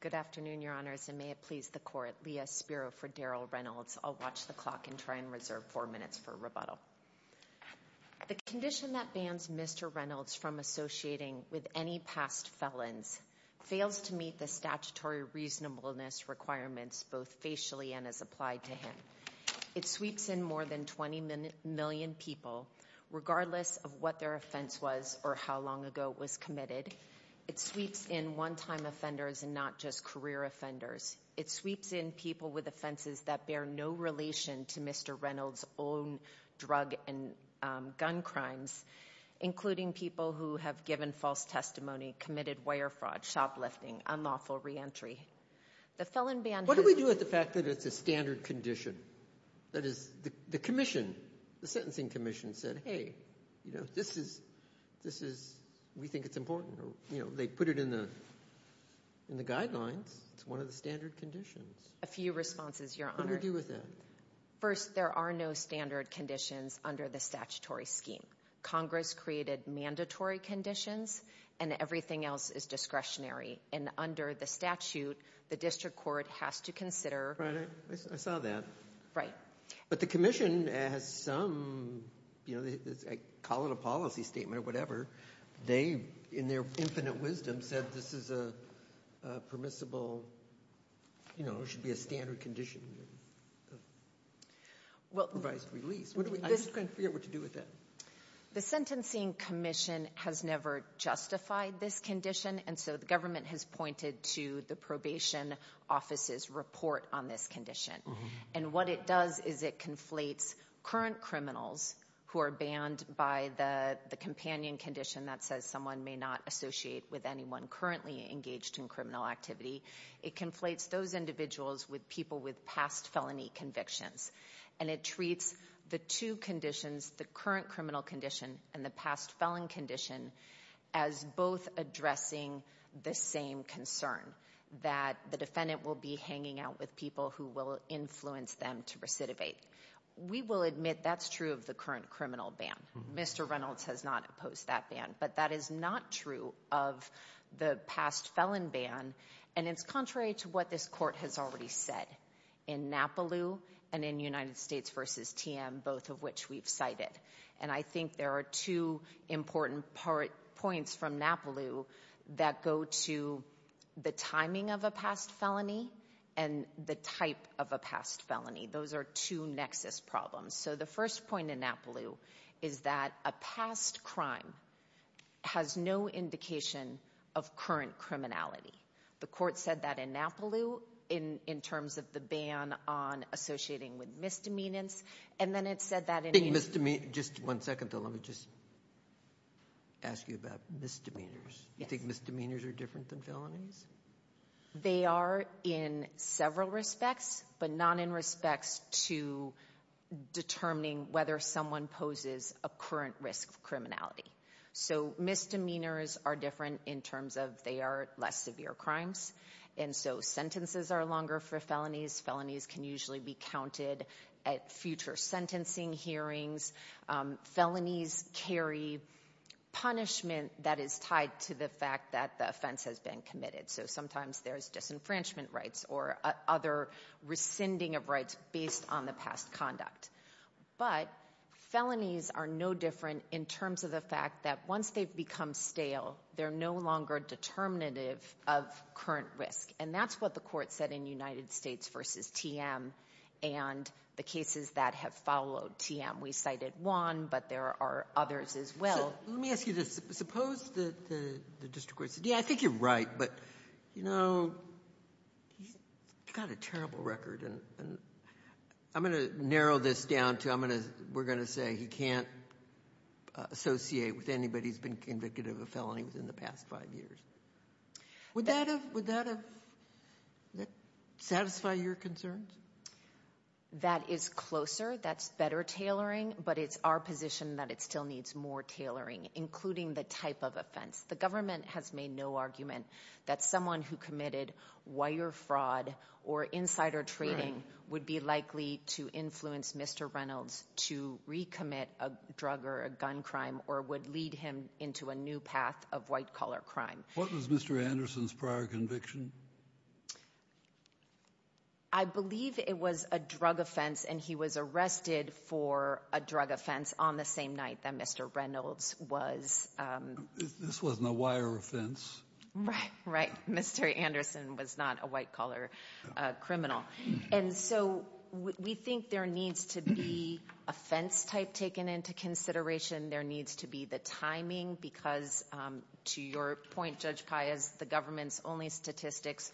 Good afternoon, your honors, and may it please the court. Leah Spiro for Daryl Reynolds. I'll watch the clock and try and reserve four minutes for rebuttal. The condition that bans Mr. Reynolds from associating with any past felons fails to meet the statutory reasonableness requirements both facially and as applied to him. It sweeps in more than 20 million people regardless of what their offense was or how long ago it was committed. It sweeps in one-time offenders and not just career offenders. It sweeps in people with offenses that bear no relation to Mr. Reynolds' own drug and gun crimes, including people who have given false testimony, committed wire fraud, shoplifting, unlawful reentry. The felon ban has been... What do we do with the fact that it's a standard condition? That is, the commission, the sentencing commission said, hey, you know, this is, this is, we think it's important, you know, they put it in the, in the guidelines. It's one of the standard conditions. A few responses, your honor. What do we do with that? First, there are no standard conditions under the statutory scheme. Congress created mandatory conditions and everything else is discretionary and under the statute, the district court has to consider... Right, I saw that. Right. But the commission has some, you know, I call it a policy statement or whatever. They, in their infinite wisdom, said this is a permissible, you know, it should be a standard condition of revised release. What do we, I just can't figure out what to do with that. The sentencing commission has never justified this condition and so the government has pointed to the probation office's report on this condition. And what it does is it conflates current criminals who are banned by the companion condition that says someone may not associate with anyone currently engaged in criminal activity. It conflates those individuals with people with past felony convictions and it treats the two conditions, the current criminal condition and the past felon condition as both addressing the same concern that the defendant will be hanging out with people who will influence them to recidivate. We will admit that's true of the current criminal ban. Mr. Reynolds has not opposed that ban. But that is not true of the past felon ban and it's contrary to what this court has already said in NAPALU and in United States versus TM, both of which we've cited. And I think there are two important points from NAPALU that go to the timing of a past felony and the type of a past felony. Those are two nexus problems. So the first point in NAPALU is that a past crime has no indication of current criminality. The court said that in NAPALU in terms of the ban on associating with misdemeanors and then it said that in United States. Just one second though, let me just ask you about misdemeanors. Do you think misdemeanors are different than felonies? They are in several respects, but not in respects to determining whether someone poses a current risk of criminality. So misdemeanors are different in terms of they are less severe crimes. And so sentences are longer for felonies. Felonies can usually be counted at future sentencing hearings. Felonies carry punishment that is tied to the fact that the offense has been committed. So sometimes there's disenfranchisement rights or other rescinding of rights based on the past conduct. But felonies are no different in terms of the fact that once they've become stale, they're no longer determinative of current risk. And that's what the court said in United States versus TM and the cases that have followed TM. We cited one, but there are others as well. So let me ask you this. Suppose that the district court said, yeah, I think you're right, but you know, he's got a terrible record. And I'm going to narrow this down to I'm going to, we're going to say he can't associate with anybody who's been convicted of a felony within the past five years. Would that have, would that satisfy your concerns? That is closer. That's better tailoring, but it's our position that it still needs more tailoring, including the type of offense. The government has made no argument that someone who committed wire fraud or insider trading would be likely to influence Mr. Reynolds to recommit a drug or a gun crime or would lead him into a new path of white collar crime. What was Mr. Anderson's prior conviction? I believe it was a drug offense and he was arrested for a drug offense on the same night that Mr. Reynolds was. This wasn't a wire offense, right? Right. Mr. Anderson was not a white collar criminal. And so we think there needs to be offense type taken into consideration. There needs to be the timing because to your point, Judge Paez, the government's only statistics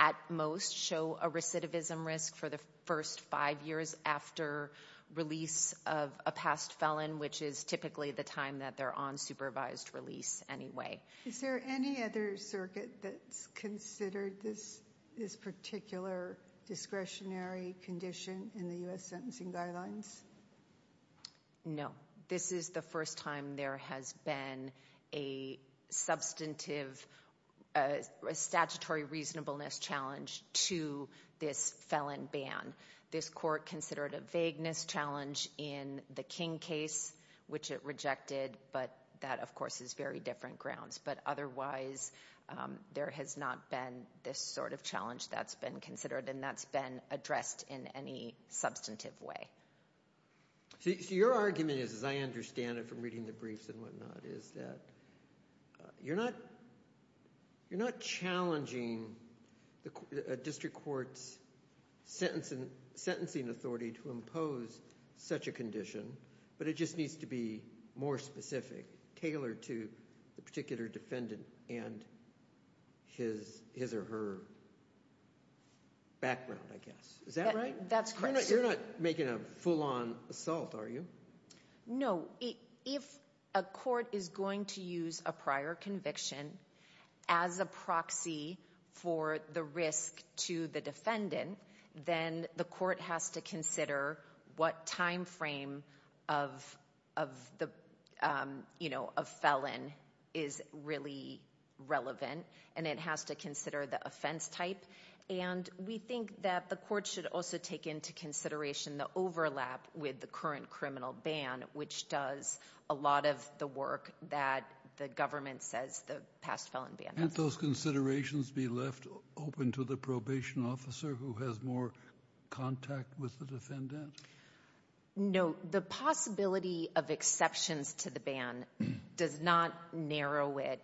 at most show a recidivism risk for the first five years after release of a past felon, which is typically the time that they're on supervised release anyway. Is there any other circuit that's considered this particular discretionary condition in the U.S. Sentencing Guidelines? No. This is the first time there has been a substantive statutory reasonableness challenge to this felon ban. This court considered a vagueness challenge in the King case, which it rejected. But that, of course, is very different grounds. But otherwise, there has not been this sort of challenge that's been considered and that's been addressed in any substantive way. So your argument is, as I understand it in reading the briefs and whatnot, is that you're not challenging a district court's sentencing authority to impose such a condition, but it just needs to be more specific, tailored to the particular defendant and his or her background, I guess. Is that right? That's correct. You're not making a full-on assault, are you? No. If a court is going to use a prior conviction as a proxy for the risk to the defendant, then the court has to consider what time frame of a felon is really relevant, and it has to consider the offense type. And we think that the court should also take into consideration the overlap with the current criminal ban, which does a lot of the work that the government says the past felon ban does. Can't those considerations be left open to the probation officer who has more contact with the defendant? No. The possibility of exceptions to the ban does not narrow it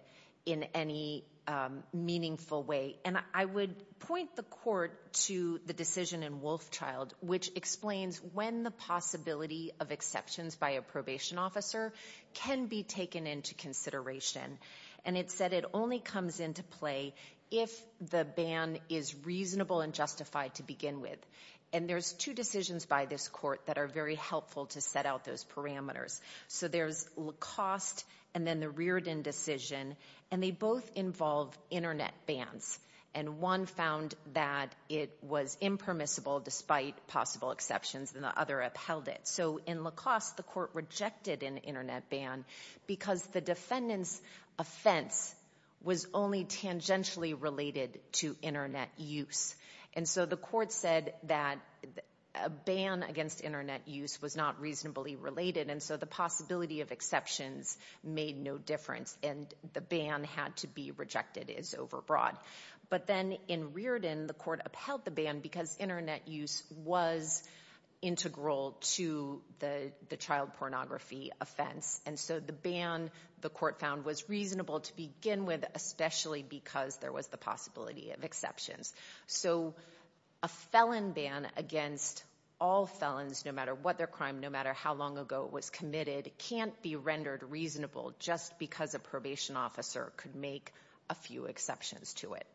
in any meaningful way. And I would point the court to the decision in Wolfchild, which explains when the possibility of exceptions by a probation officer can be taken into consideration. And it said it only comes into play if the ban is reasonable and justified to begin with. And there's two decisions by this court that are very helpful to set out those parameters. So there's Lacoste and then the Reardon decision, and they both involve internet bans. And one found that it was impermissible despite possible exceptions, and the other upheld it. So in Lacoste, the court rejected an internet ban because the defendant's offense was only tangentially related to internet use. And so the court said that a ban against internet use was not reasonably related. And so the possibility of exceptions made no difference and the ban had to be rejected as overbroad. But then in Reardon, the court upheld the ban because internet use was integral to the child pornography offense. And so the ban, the court found was reasonable to begin with, especially because there was the possibility of exceptions. So a felon ban against all felons, no matter what their crime, no matter how long ago it was committed, can't be rendered reasonable just because a probation officer could make a few exceptions to it.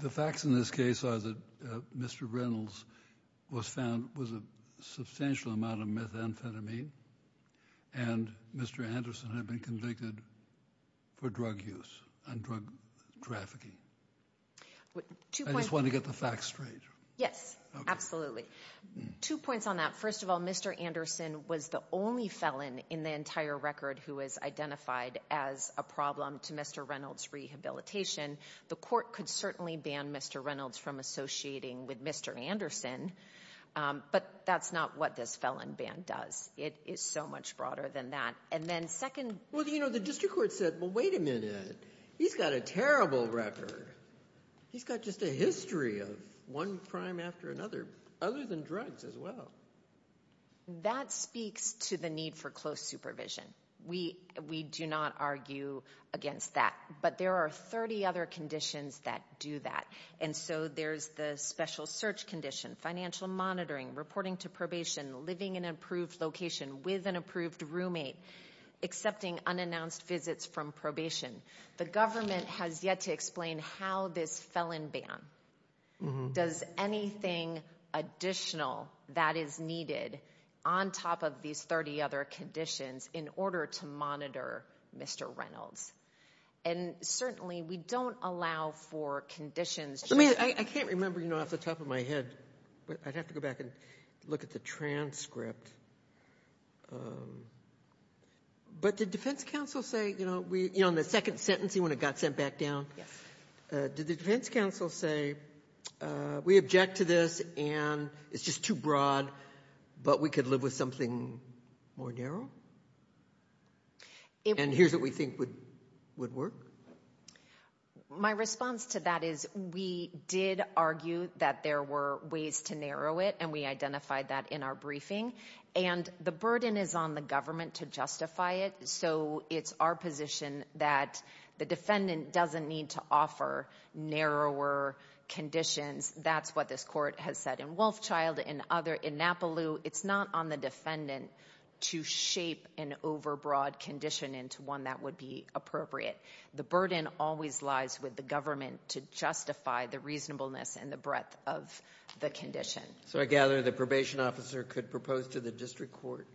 The facts in this case are that Mr. Reynolds was found, was a substantial amount of methamphetamine and Mr. Anderson had been convicted for drug use and drug trafficking. I just want to get the facts straight. Yes, absolutely. Two points on that. First of all, Mr. Anderson was the only felon in the entire record who was identified as a problem to Mr. Reynolds' rehabilitation. The court could certainly ban Mr. Reynolds from associating with Mr. Anderson, but that's not what this felon ban does. It is so much broader than that. And then second- Well, you know, the district court said, well, wait a minute. He's got a terrible record. He's got just a history of one crime after another, other than drugs as well. That speaks to the need for close supervision. We do not argue against that, but there are 30 other conditions that do that. And so there's the special search condition, financial monitoring, reporting to probation, living in an approved location with an approved roommate, accepting unannounced visits from probation. The government has yet to explain how this felon ban does anything additional that is needed on top of these 30 other conditions in order to monitor Mr. Reynolds. And certainly we don't allow for conditions- I mean, I can't remember off the top of my head, but I'd have to go back and look at the transcript. But did defense counsel say, you know, in the second sentencing when it got sent back down? Yes. Did the defense counsel say, we object to this and it's just too broad, but we could live with something more narrow? And here's what we think would work. My response to that is we did argue that there were ways to narrow it, and we identified that in our briefing. And the burden is on the government to justify it. So it's our position that the defendant doesn't need to offer narrower conditions. That's what this court has said in Wolfchild, in other, in Napolew. It's not on the defendant to shape an overbroad condition into one that would be appropriate. The burden always lies with the government to justify the reasonableness and the breadth of the condition. So I gather the probation officer could propose to the district court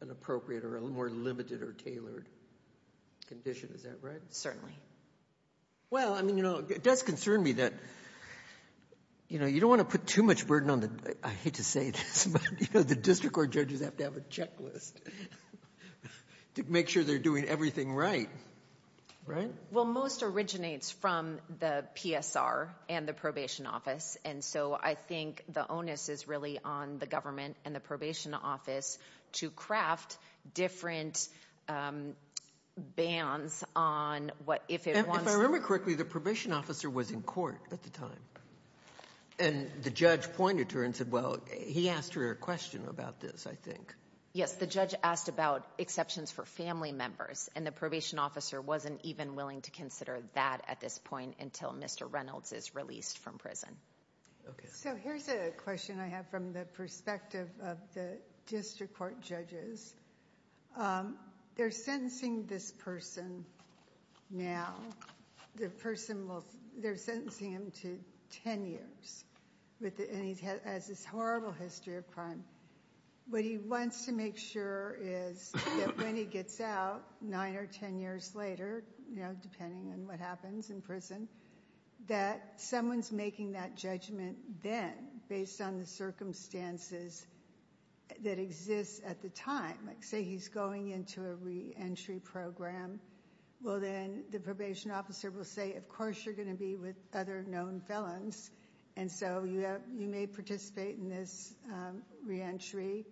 an appropriate or a more limited or tailored condition, is that right? Certainly. Well, I mean, you know, it does concern me that, you know, you don't want to put too much burden on the, I hate to say this, but you know, the district court judges have to have a checklist to make sure they're doing everything right, right? Well, most originates from the PSR and the probation office. And so I think the onus is really on the government and the probation office to craft different bans on what, if it wants to. If I remember correctly, the probation officer was in court at the time. And the judge pointed to her and said, well, he asked her a question about this, I think. Yes, the judge asked about exceptions for family members. And the probation officer wasn't even willing to consider that at this point until Mr. Reynolds is released from prison. Okay. So here's a question I have from the perspective of the district court judges. They're sentencing this person now. The person will, they're sentencing him to 10 years. And he has this horrible history of crime. What he wants to make sure is that when he gets out, nine or 10 years later, you know, depending on what happens in prison, that someone's making that judgment then based on the circumstances that exist at the time. Like say he's going into a re-entry program. Well, then the probation officer will say, of course you're going to be with other known felons. And so you may participate in this re-entry.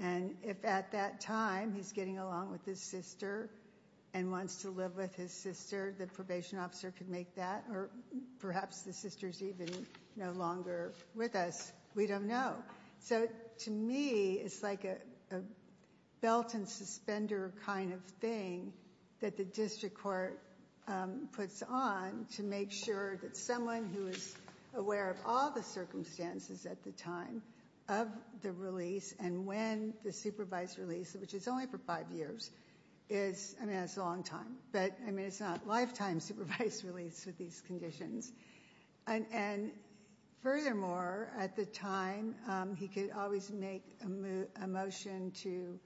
And if at that time he's getting along with his sister and wants to live with his sister, the probation officer could make that or perhaps the sister's even no longer with us. We don't know. So to me, it's like a belt and suspender kind of thing that the district court puts on to make sure that someone who is aware of all the circumstances at the time of the release and when the supervised release, which is only for five years is, I mean, it's a long time, but I mean, it's not lifetime supervised release with these conditions. And furthermore, at the time, he could always make a motion to,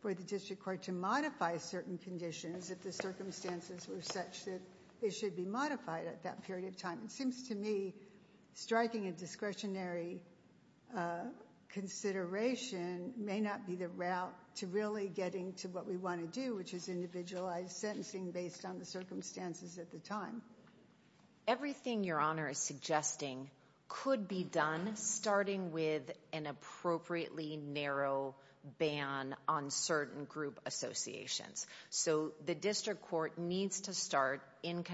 for the district court to modify certain conditions if the circumstances were such that they should be modified at that period of time. It seems to me striking a discretionary consideration may not be the route to really getting to what we want to do, which is individualized sentencing based on the circumstances at the time. Everything Your Honor is suggesting could be done starting with an appropriately narrow ban on certain group associations. So the district court needs to start in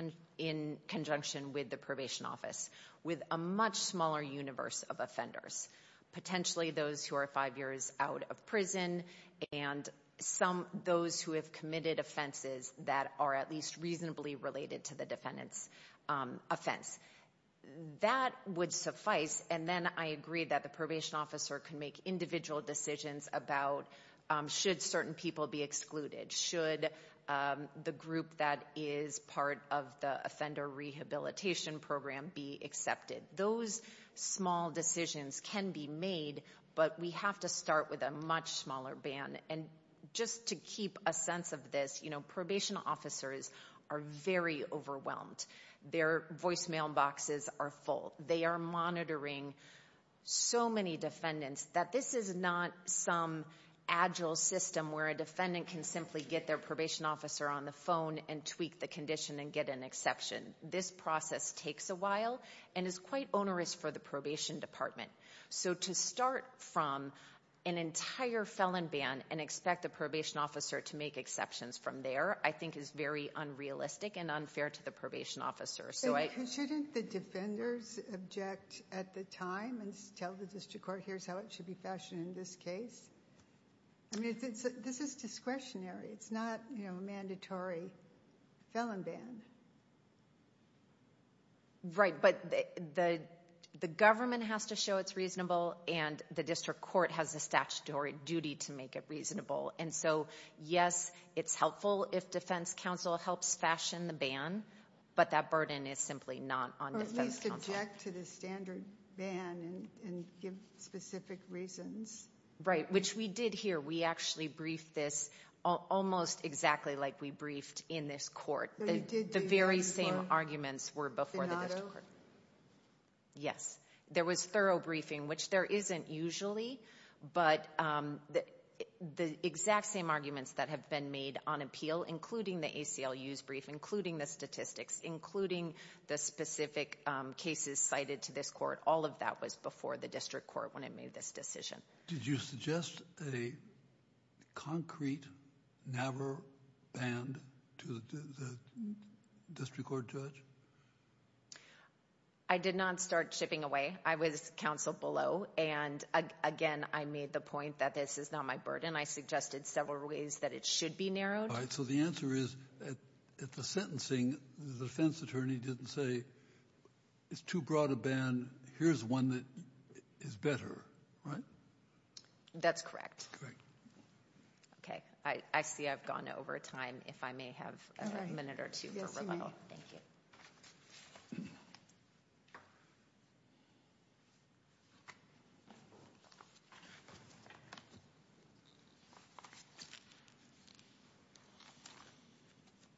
conjunction with the probation office with a much smaller universe of offenders, potentially those who are five years out of prison and those who have committed offenses that are at least reasonably related to the defendant's offense. That would suffice. And then I agree that the probation officer can make individual decisions about should certain people be excluded? Should the group that is part of the offender rehabilitation program be accepted? Those small decisions can be made, but we have to start with a much smaller ban. And just to keep a sense of this, probation officers are very overwhelmed. Their voicemail boxes are full. They are monitoring so many defendants that this is not some agile system where a defendant can simply get their probation officer on the phone and tweak the condition and get an exception. This process takes a while and is quite onerous for the probation department. So to start from an entire felon ban and expect the probation officer to make exceptions from there, I think is very unrealistic and unfair to the probation officer. Shouldn't the defenders object at the time and tell the district court, here's how it should be fashioned in this case? I mean, this is discretionary. It's not a mandatory felon ban. Right, but the government has to show it's reasonable and the district court has a statutory duty to make it reasonable. And so, yes, it's helpful if defense counsel helps fashion the ban, but that burden is simply not on defense counsel. Or at least object to the standard ban and give specific reasons. Right, which we did here. We actually briefed this almost exactly like we briefed in this court. The very same arguments were before the district court. Yes, there was thorough briefing, which there isn't usually, but the exact same arguments that have been made on appeal, including the ACLU's brief, including the statistics, including the specific cases cited to this court, all of that was before the district court when it made this decision. Did you suggest a concrete, never banned to the district court judge? I did not start chipping away. I was counsel below. And again, I made the point that this is not my burden. I suggested several ways that it should be narrowed. So the answer is, at the sentencing, the defense attorney didn't say, it's too broad a ban. Here's one that is better, right? That's correct. Okay, I see I've gone over time. If I may have a minute or two for rebuttal. Thank you.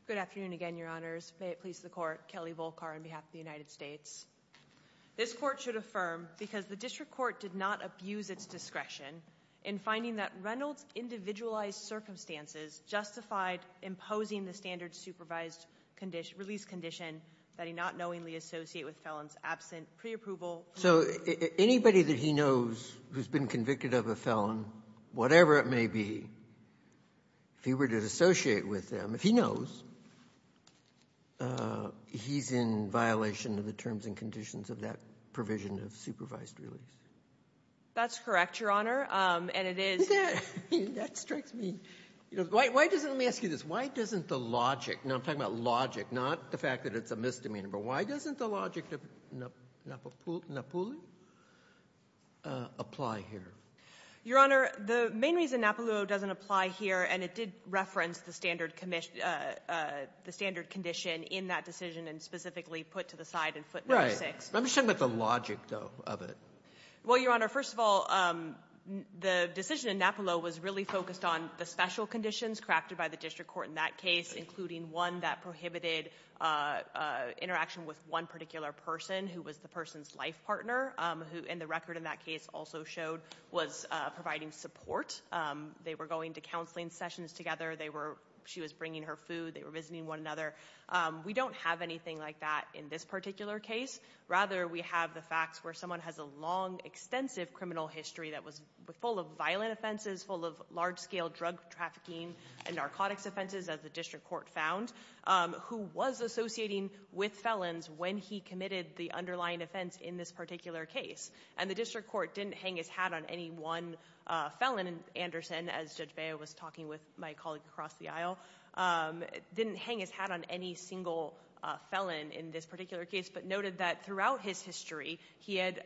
Good afternoon again, Your Honors. May it please the Court. Kelly Volkar on behalf of the United States. This Court should affirm, because the district court did not abuse its discretion in finding that Reynolds' individualized circumstances justified imposing the standard supervised release condition that he not knowingly associated with felons absent preapproval. So anybody that he knows who's been convicted of a felon, whatever it may be, if he did associate with them, if he knows, he's in violation of the terms and conditions of that provision of supervised release. That's correct, Your Honor, and it is. That strikes me. Why doesn't, let me ask you this, why doesn't the logic, and I'm talking about logic, not the fact that it's a misdemeanor, but why doesn't the logic of Napoli apply here? Your Honor, the main reason Napoli doesn't apply here, and it did reference the standard condition in that decision and specifically put to the side in foot number six. Let me just talk about the logic, though, of it. Well, Your Honor, first of all, the decision in Napoli was really focused on the special conditions crafted by the district court in that case, including one that prohibited interaction with one particular person who was the person's life partner, who in the case also showed was providing support. They were going to counseling sessions together. They were, she was bringing her food. They were visiting one another. We don't have anything like that in this particular case. Rather, we have the facts where someone has a long, extensive criminal history that was full of violent offenses, full of large-scale drug trafficking and narcotics offenses, as the district court found, who was associating with felons when he committed the underlying offense in this particular case. And the district court didn't hang his hat on any one felon. And Anderson, as Judge Baio was talking with my colleague across the aisle, didn't hang his hat on any single felon in this particular case, but noted that throughout his history, he had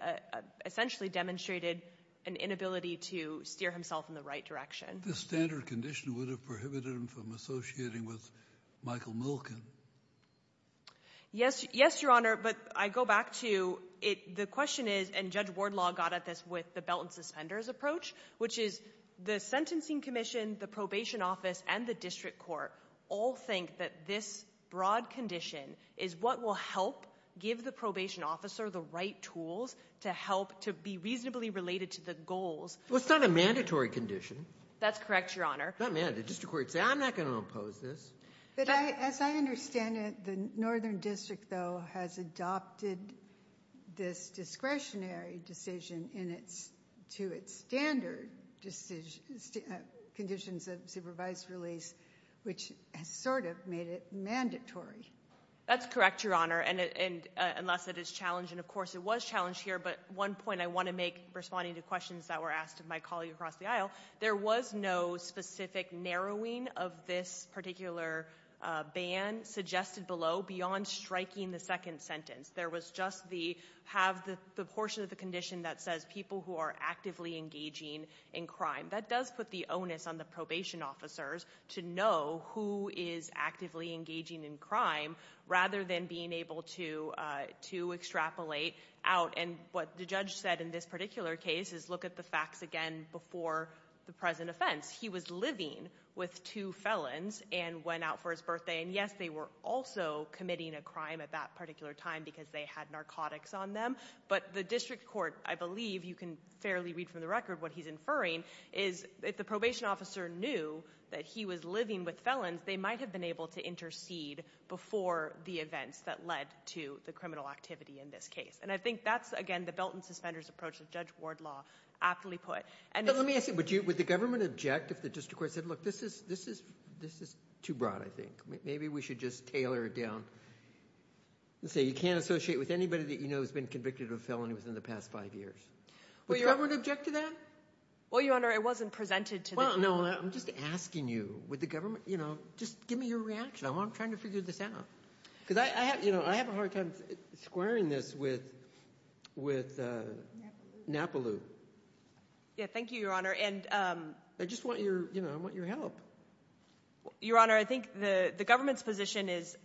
essentially demonstrated an inability to steer himself in the right direction. The standard condition would have prohibited him from associating with Michael Milken. Yes. Yes, Your Honor. But I go back to it. The question is, and Judge Wardlaw got at this with the belt and suspenders approach, which is the sentencing commission, the probation office, and the district court all think that this broad condition is what will help give the probation officer the right tools to help to be reasonably related to the goals. Well, it's not a mandatory condition. That's correct, Your Honor. Not mandatory. The district court said, I'm not going to oppose this. But as I understand it, the northern district, though, has adopted this discretionary decision to its standard conditions of supervised release, which has sort of made it That's correct, Your Honor, unless it is challenged. And of course, it was challenged here. But one point I want to make, responding to questions that were asked of my colleague across the aisle, there was no specific narrowing of this particular ban suggested below beyond striking the second sentence. There was just the portion of the condition that says people who are actively engaging in crime. That does put the onus on the probation officers to know who is actively engaging in crime rather than being able to extrapolate out. And what the judge said in this particular case is look at the facts again before the present offense. He was living with two felons and went out for his birthday. And yes, they were also committing a crime at that particular time because they had narcotics on them. But the district court, I believe you can fairly read from the record what he's inferring is if the probation officer knew that he was living with felons, they might have been able to intercede before the events that led to the criminal activity in this case. And I think that's, again, the belt and suspenders approach that Judge Wardlaw aptly put. But let me ask you, would the government object if the district court said, look, this is too broad, I think. Maybe we should just tailor it down and say you can't associate with anybody that you know has been convicted of a felony within the past five years. Would your government object to that? Well, Your Honor, it wasn't presented to the court. Well, no, I'm just asking you, would the government, you know, just give me your reaction. I'm trying to figure this out. Because I have, you know, I have a hard time squaring this with Napolu. Yeah, thank you, Your Honor. And I just want your, you know, I want your help. Your Honor, I think the government's position is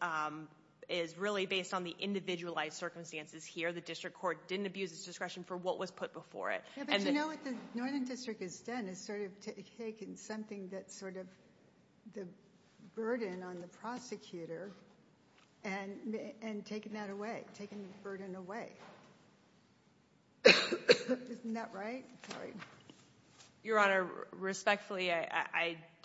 really based on the individualized circumstances here. The district court didn't abuse its discretion for what was put before it. Yeah, but you know what the Northern District has done is sort of taken something that's the burden on the prosecutor and taken that away, taken the burden away. Isn't that right? Your Honor, respectfully,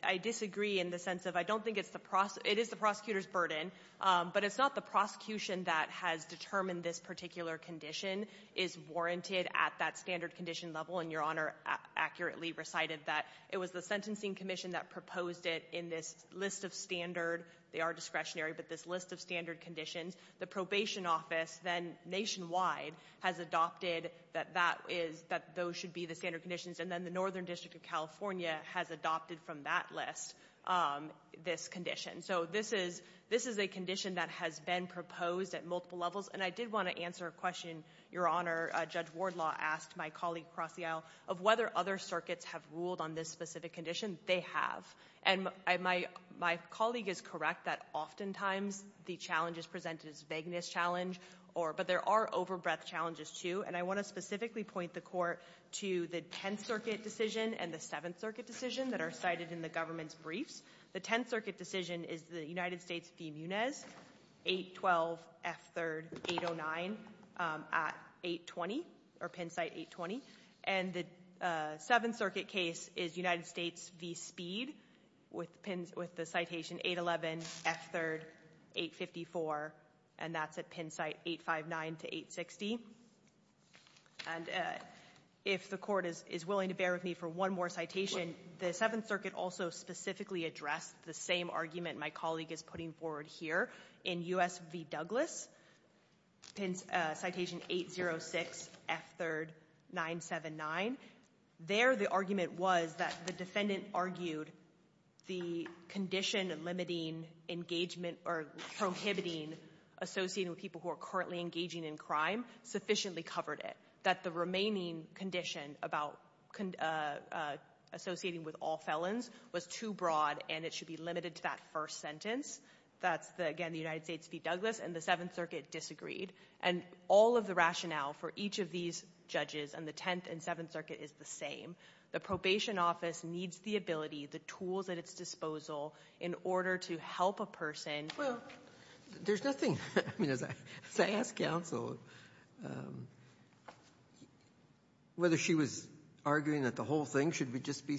I disagree in the sense of I don't think it's the, it is the prosecutor's burden, but it's not the prosecution that has determined this particular condition is warranted at that standard condition level. And Your Honor accurately recited that it was the Sentencing Commission that proposed it in this list of standard, they are discretionary, but this list of standard conditions. The Probation Office, then nationwide, has adopted that that is, that those should be the standard conditions. And then the Northern District of California has adopted from that list this condition. So this is, this is a condition that has been proposed at multiple levels. And I did want to answer a question, Your Honor. Judge Wardlaw asked my colleague across the aisle of whether other circuits have ruled on this specific condition. They have. And my colleague is correct that oftentimes the challenge is presented as vagueness challenge or, but there are overbreadth challenges, too. And I want to specifically point the Court to the Tenth Circuit decision and the Seventh Circuit decision that are cited in the government's briefs. The Tenth Circuit decision is the United States v. Munez, 812F3809, at 820, or pin site 820. And the Seventh Circuit case is United States v. Speed, with the citation 811F3854, and that's at pin site 859 to 860. And if the Court is willing to bear with me for one more citation, the Seventh Circuit also specifically addressed the same argument my colleague is putting forward here in U.S. v. Douglas, citation 806F3979. There, the argument was that the defendant argued the condition limiting engagement or prohibiting associating with people who are currently engaging in crime sufficiently covered that the remaining condition about associating with all felons was too broad and it should be limited to that first sentence. That's, again, the United States v. Douglas, and the Seventh Circuit disagreed. And all of the rationale for each of these judges in the Tenth and Seventh Circuit is the same. The probation office needs the ability, the tools at its disposal in order to help a Well, there's nothing. I mean, as I asked counsel whether she was arguing that the whole thing should just be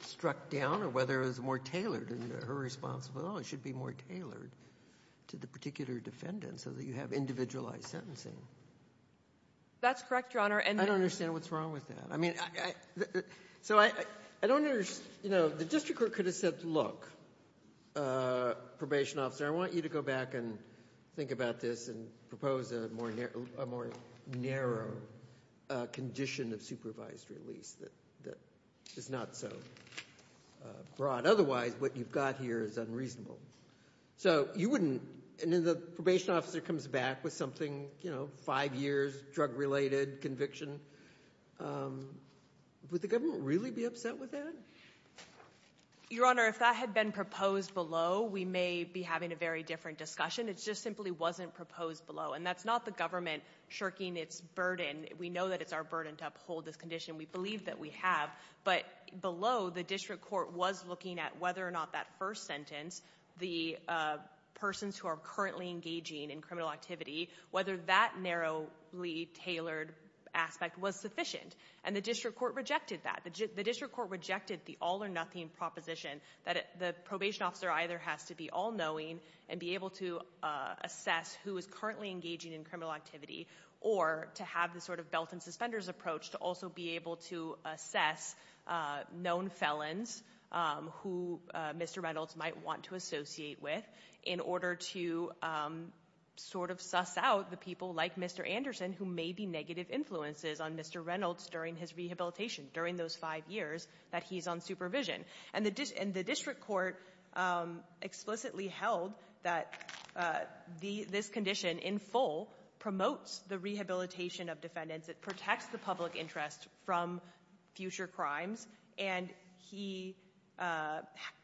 struck down or whether it was more tailored in her response, well, it should be more tailored to the particular defendant so that you have individualized sentencing. That's correct, Your Honor. I don't understand what's wrong with that. I mean, so I don't understand. You know, the district court could have said, look, probation officer, I want you to go back and think about this and propose a more narrow condition of supervised release that is not so broad. Otherwise, what you've got here is unreasonable. So you wouldn't, and then the probation officer comes back with something, you know, five years, drug-related conviction. Would the government really be upset with that? Your Honor, if that had been proposed below, we may be having a very different discussion. It just simply wasn't proposed below. And that's not the government shirking its burden. We know that it's our burden to uphold this condition. We believe that we have. But below, the district court was looking at whether or not that first sentence, the persons who are currently engaging in criminal activity, whether that narrowly tailored aspect was sufficient. And the district court rejected that. The district court rejected the all-or-nothing proposition that the probation officer either has to be all-knowing and be able to assess who is currently engaging in criminal activity or to have the sort of belt-and-suspenders approach to also be able to assess known felons who Mr. Reynolds might want to associate with in order to sort of suss out the people like Mr. Anderson who may be negative influences on Mr. Reynolds during his rehabilitation, during those five years that he's on supervision. And the district court explicitly held that this condition in full promotes the rehabilitation of defendants. It protects the public interest from future crimes. And he,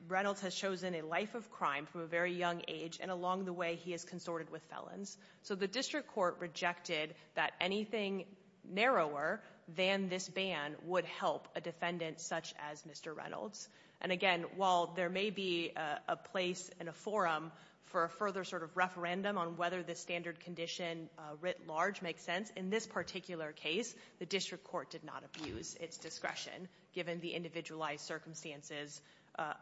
Reynolds, has chosen a life of crime from a very young age, and along the way, he has consorted with felons. So the district court rejected that anything narrower than this ban would help a defendant such as Mr. Reynolds. And again, while there may be a place in a forum for a further sort of referendum on whether this standard condition writ large makes sense, in this particular case, the district court did not abuse its discretion, given the individualized circumstances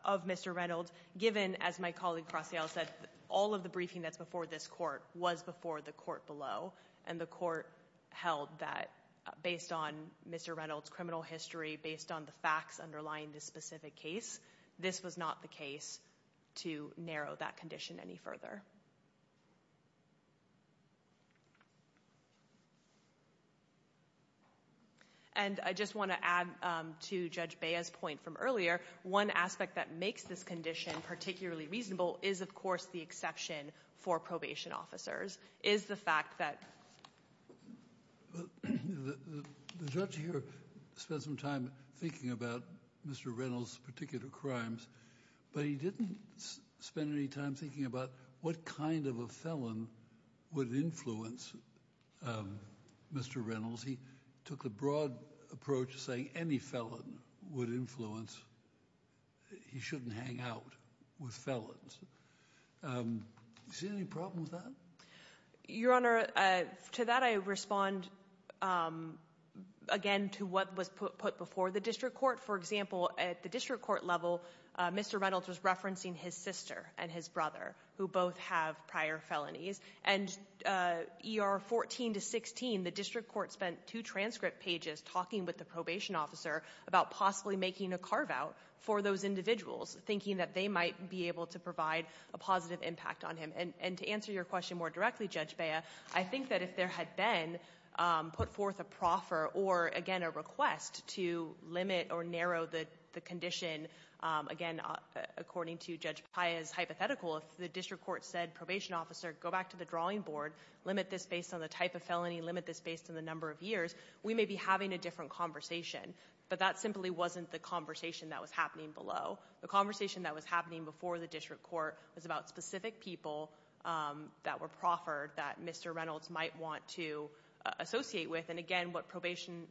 of Mr. Reynolds, given, as my colleague Crosial said, all of the briefing that's before this court was before the court below. And the court held that based on Mr. Reynolds' criminal history, based on the facts underlying this specific case, this was not the case to narrow that condition any further. And I just want to add to Judge Bea's point from earlier, one aspect that makes this condition particularly reasonable is, of course, the exception for probation officers, is the fact that... The judge here spent some time thinking about Mr. Reynolds' particular crimes, but he didn't spend any time thinking about what kind of a felon would influence Mr. Reynolds. He took a broad approach to saying any felon would influence, he shouldn't hang out. With felons. Is there any problem with that? Your Honor, to that I respond, again, to what was put before the district court. For example, at the district court level, Mr. Reynolds was referencing his sister and his brother, who both have prior felonies. And ER 14 to 16, the district court spent two transcript pages talking with the probation officer about possibly making a carve-out for those individuals, thinking that they might be able to provide a positive impact on him. And to answer your question more directly, Judge Bea, I think that if there had been put forth a proffer or, again, a request to limit or narrow the condition, again, according to Judge Paia's hypothetical, if the district court said, probation officer, go back to the drawing board, limit this based on the type of felony, limit this based on the number of years, we may be having a different conversation. But that simply wasn't the conversation that was happening below. The conversation that was happening before the district court was about specific people that were proffered that Mr. Reynolds might want to associate with. And again, what probation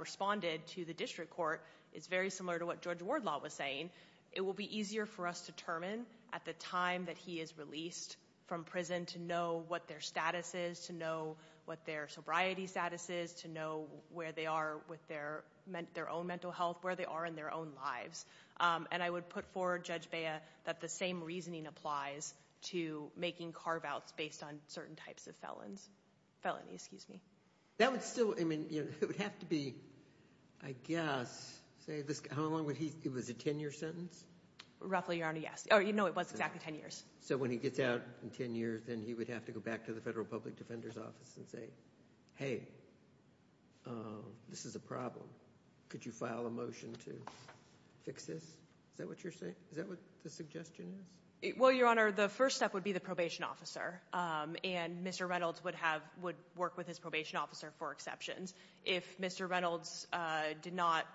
responded to the district court is very similar to what Judge Wardlaw was saying. It will be easier for us to determine at the time that he is released from prison to know what their status is, to know what their sobriety status is, to know where they are with their own mental health, where they are in their own lives. And I would put forward, Judge Bea, that the same reasoning applies to making carve-outs based on certain types of felons, felonies, excuse me. That would still, I mean, it would have to be, I guess, say this, how long would he, it was a 10-year sentence? Roughly, Your Honor, yes. Oh, no, it was exactly 10 years. So when he gets out in 10 years, then he would have to go back to the Federal Public Defender's Office and say, hey, this is a problem. Could you file a motion to fix this? Is that what you're saying? Is that what the suggestion is? Well, Your Honor, the first step would be the probation officer. And Mr. Reynolds would have, would work with his probation officer for exceptions. If Mr. Reynolds did not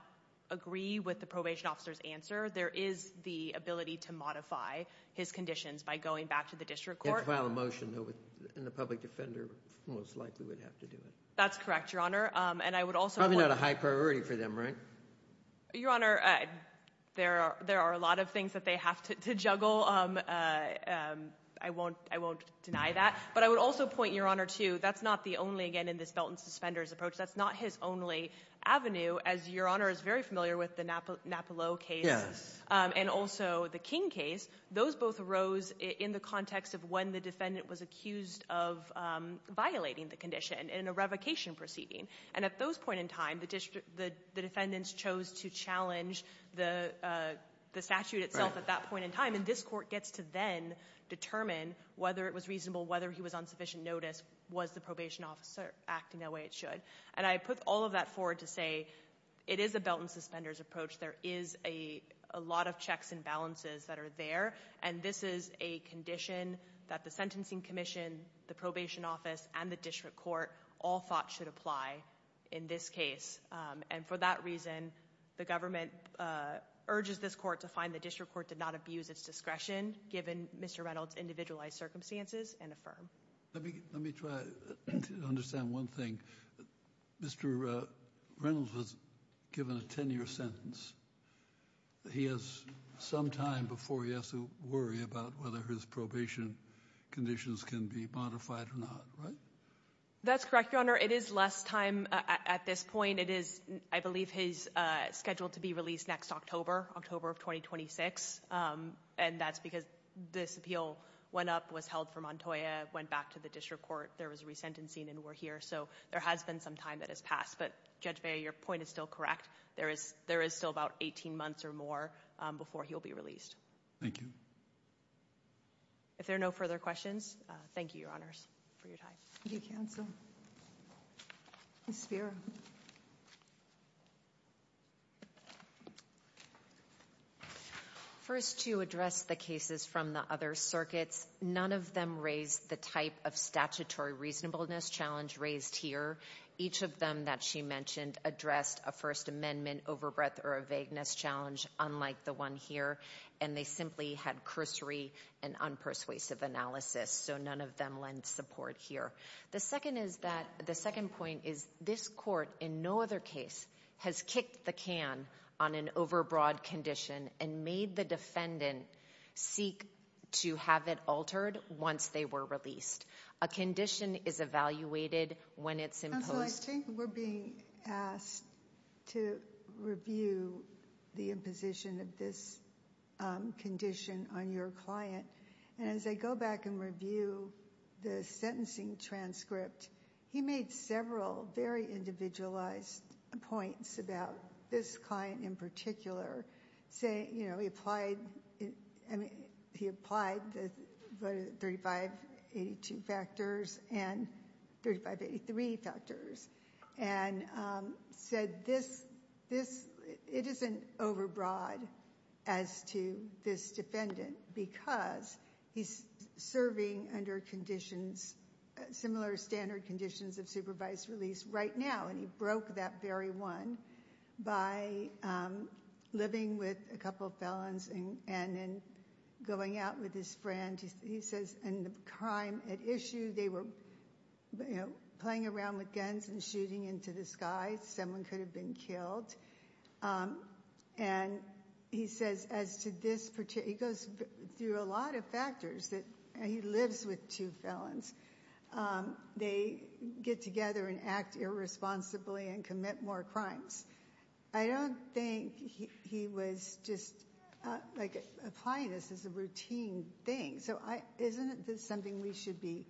agree with the probation officer's answer, there is the ability to modify his conditions by going back to the district court. He'd have to file a motion, though, and the public defender most likely would have to do it. That's correct, Your Honor. And I would also point— Probably not a high priority for them, right? Your Honor, there are a lot of things that they have to juggle. I won't deny that. But I would also point, Your Honor, to that's not the only, again, in this belt and suspenders approach, that's not his only avenue, as Your Honor is very familiar with the Napolo case. Yes. And also the King case. Those both arose in the context of when the defendant was accused of violating the condition in a revocation proceeding. And at those point in time, the defendants chose to challenge the statute itself at that point in time. And this court gets to then determine whether it was reasonable, whether he was on sufficient notice, was the probation officer acting that way it should. And I put all of that forward to say it is a belt and suspenders approach. There is a lot of checks and balances that are there. And this is a condition that the sentencing commission, the probation office, and the district court all thought should apply in this case. And for that reason, the government urges this court to find the district court did not abuse its discretion, given Mr. Reynolds' individualized circumstances, and affirm. Let me try to understand one thing. Mr. Reynolds was given a 10-year sentence. He has some time before he has to worry about whether his probation conditions can be modified or not, right? That's correct, Your Honor. It is less time at this point. It is, I believe, scheduled to be released next October, October of 2026. And that's because this appeal went up, was held for Montoya, went back to the district court. There was resentencing, and we're here. So there has been some time that has passed. But Judge Beyer, your point is still correct. There is still about 18 months or more before he'll be released. Thank you. If there are no further questions, thank you, Your Honors, for your time. Thank you, counsel. Ms. Spiro. First, to address the cases from the other circuits, none of them raised the type of statutory reasonableness challenge raised here. Each of them that she mentioned addressed a First Amendment overbreath or a vagueness challenge, unlike the one here. And they simply had cursory and unpersuasive analysis. So none of them lend support here. The second is that, the second point is this court, in no other case, has kicked the can on an overbroad condition and made the defendant seek to have it altered once they were released. A condition is evaluated when it's imposed. Counsel, I think we're being asked to review the imposition of this condition on your client. And as I go back and review the sentencing transcript, he made several very individualized points about this client in particular. Say, you know, he applied, I mean, he applied the 3582 factors and 3583 factors and said this, this, it isn't overbroad as to this defendant because he's serving under conditions, similar standard conditions of supervised release right now. And he broke that very one by living with a couple felons and then going out with his friend. He says, and the crime at issue, they were, you know, playing around with guns and shooting into the sky. Someone could have been killed. And he says, as to this particular, he goes through a lot of factors that, he lives with two felons. They get together and act irresponsibly and commit more crimes. I don't think he was just, like, applying this as a routine thing. So isn't this something we should be,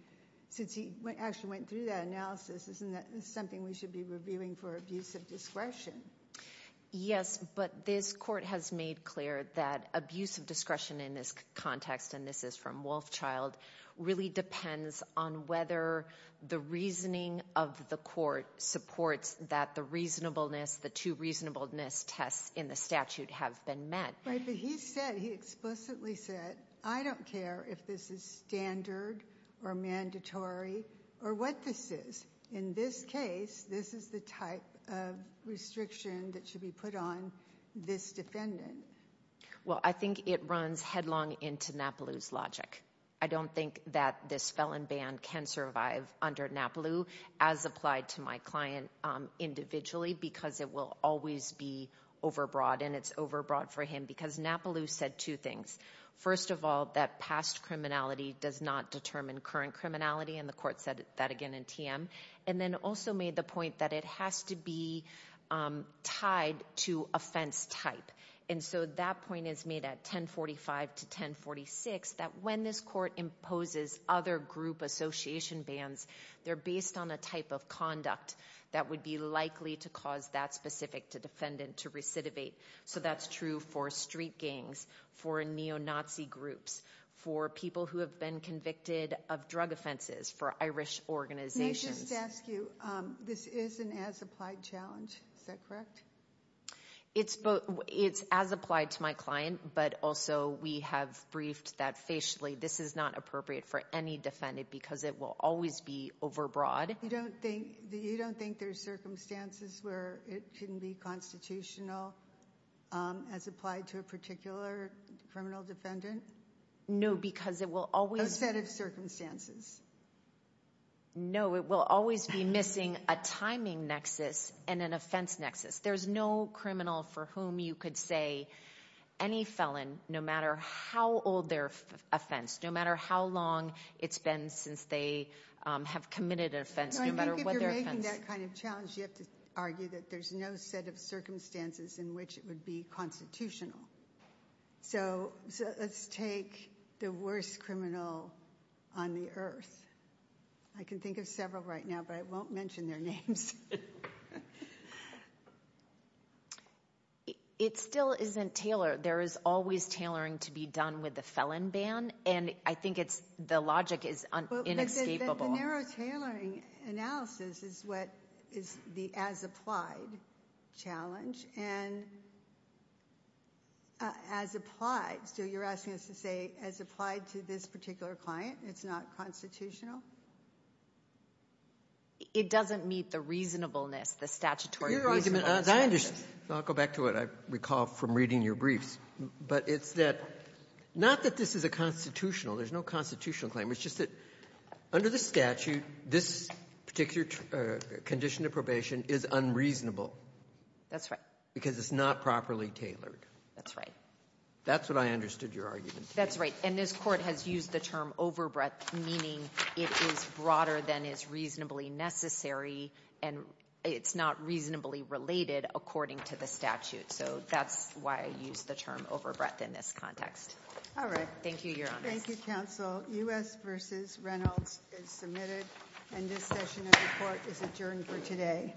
since he actually went through that analysis, isn't that something we should be reviewing for abuse of discretion? Yes, but this court has made clear that abuse of discretion in this context, and this is Wolfchild, really depends on whether the reasoning of the court supports that the reasonableness, the two reasonableness tests in the statute have been met. Right, but he said, he explicitly said, I don't care if this is standard or mandatory or what this is. In this case, this is the type of restriction that should be put on this defendant. Well, I think it runs headlong into Napolou's logic. I don't think that this felon ban can survive under Napolou, as applied to my client individually, because it will always be overbroad, and it's overbroad for him. Because Napolou said two things. First of all, that past criminality does not determine current criminality, and the court said that again in TM. And then also made the point that it has to be tied to offense type. And so that point is made at 1045 to 1046, that when this court imposes other group association bans, they're based on a type of conduct that would be likely to cause that specific defendant to recidivate. So that's true for street gangs, for neo-Nazi groups, for people who have been convicted of drug offenses, for Irish organizations. Can I just ask you, this is an as-applied challenge, is that correct? It's as-applied to my client, but also we have briefed that facially this is not appropriate for any defendant, because it will always be overbroad. You don't think there's circumstances where it can be constitutional, as applied to a particular criminal defendant? No, because it will always... A set of circumstances. No, it will always be missing a timing nexus and an offense nexus. There's no criminal for whom you could say any felon, no matter how old their offense, no matter how long it's been since they have committed an offense, no matter what their offense... No, I think if you're making that kind of challenge, you have to argue that there's no set of circumstances in which it would be constitutional. So let's take the worst criminal on the earth. I can think of several right now, but I won't mention their names. It still isn't tailored. There is always tailoring to be done with the felon ban, and I think the logic is inescapable. The narrow tailoring analysis is what is the as-applied challenge. And as-applied, so you're asking us to say as-applied to this particular client, it's not constitutional? It doesn't meet the reasonableness, the statutory reasonableness. I'll go back to it. I recall from reading your briefs. But it's that, not that this is a constitutional, there's no constitutional claim, it's just that under the statute, this particular condition of probation is unreasonable. That's right. Because it's not properly tailored. That's right. That's what I understood your argument. That's right. And this Court has used the term overbreadth, meaning it is broader than is reasonably necessary, and it's not reasonably related, according to the statute. So that's why I used the term overbreadth in this context. All right. Thank you. You're on. Thank you, counsel. U.S. v. Reynolds is submitted. And this session of the Court is adjourned for today.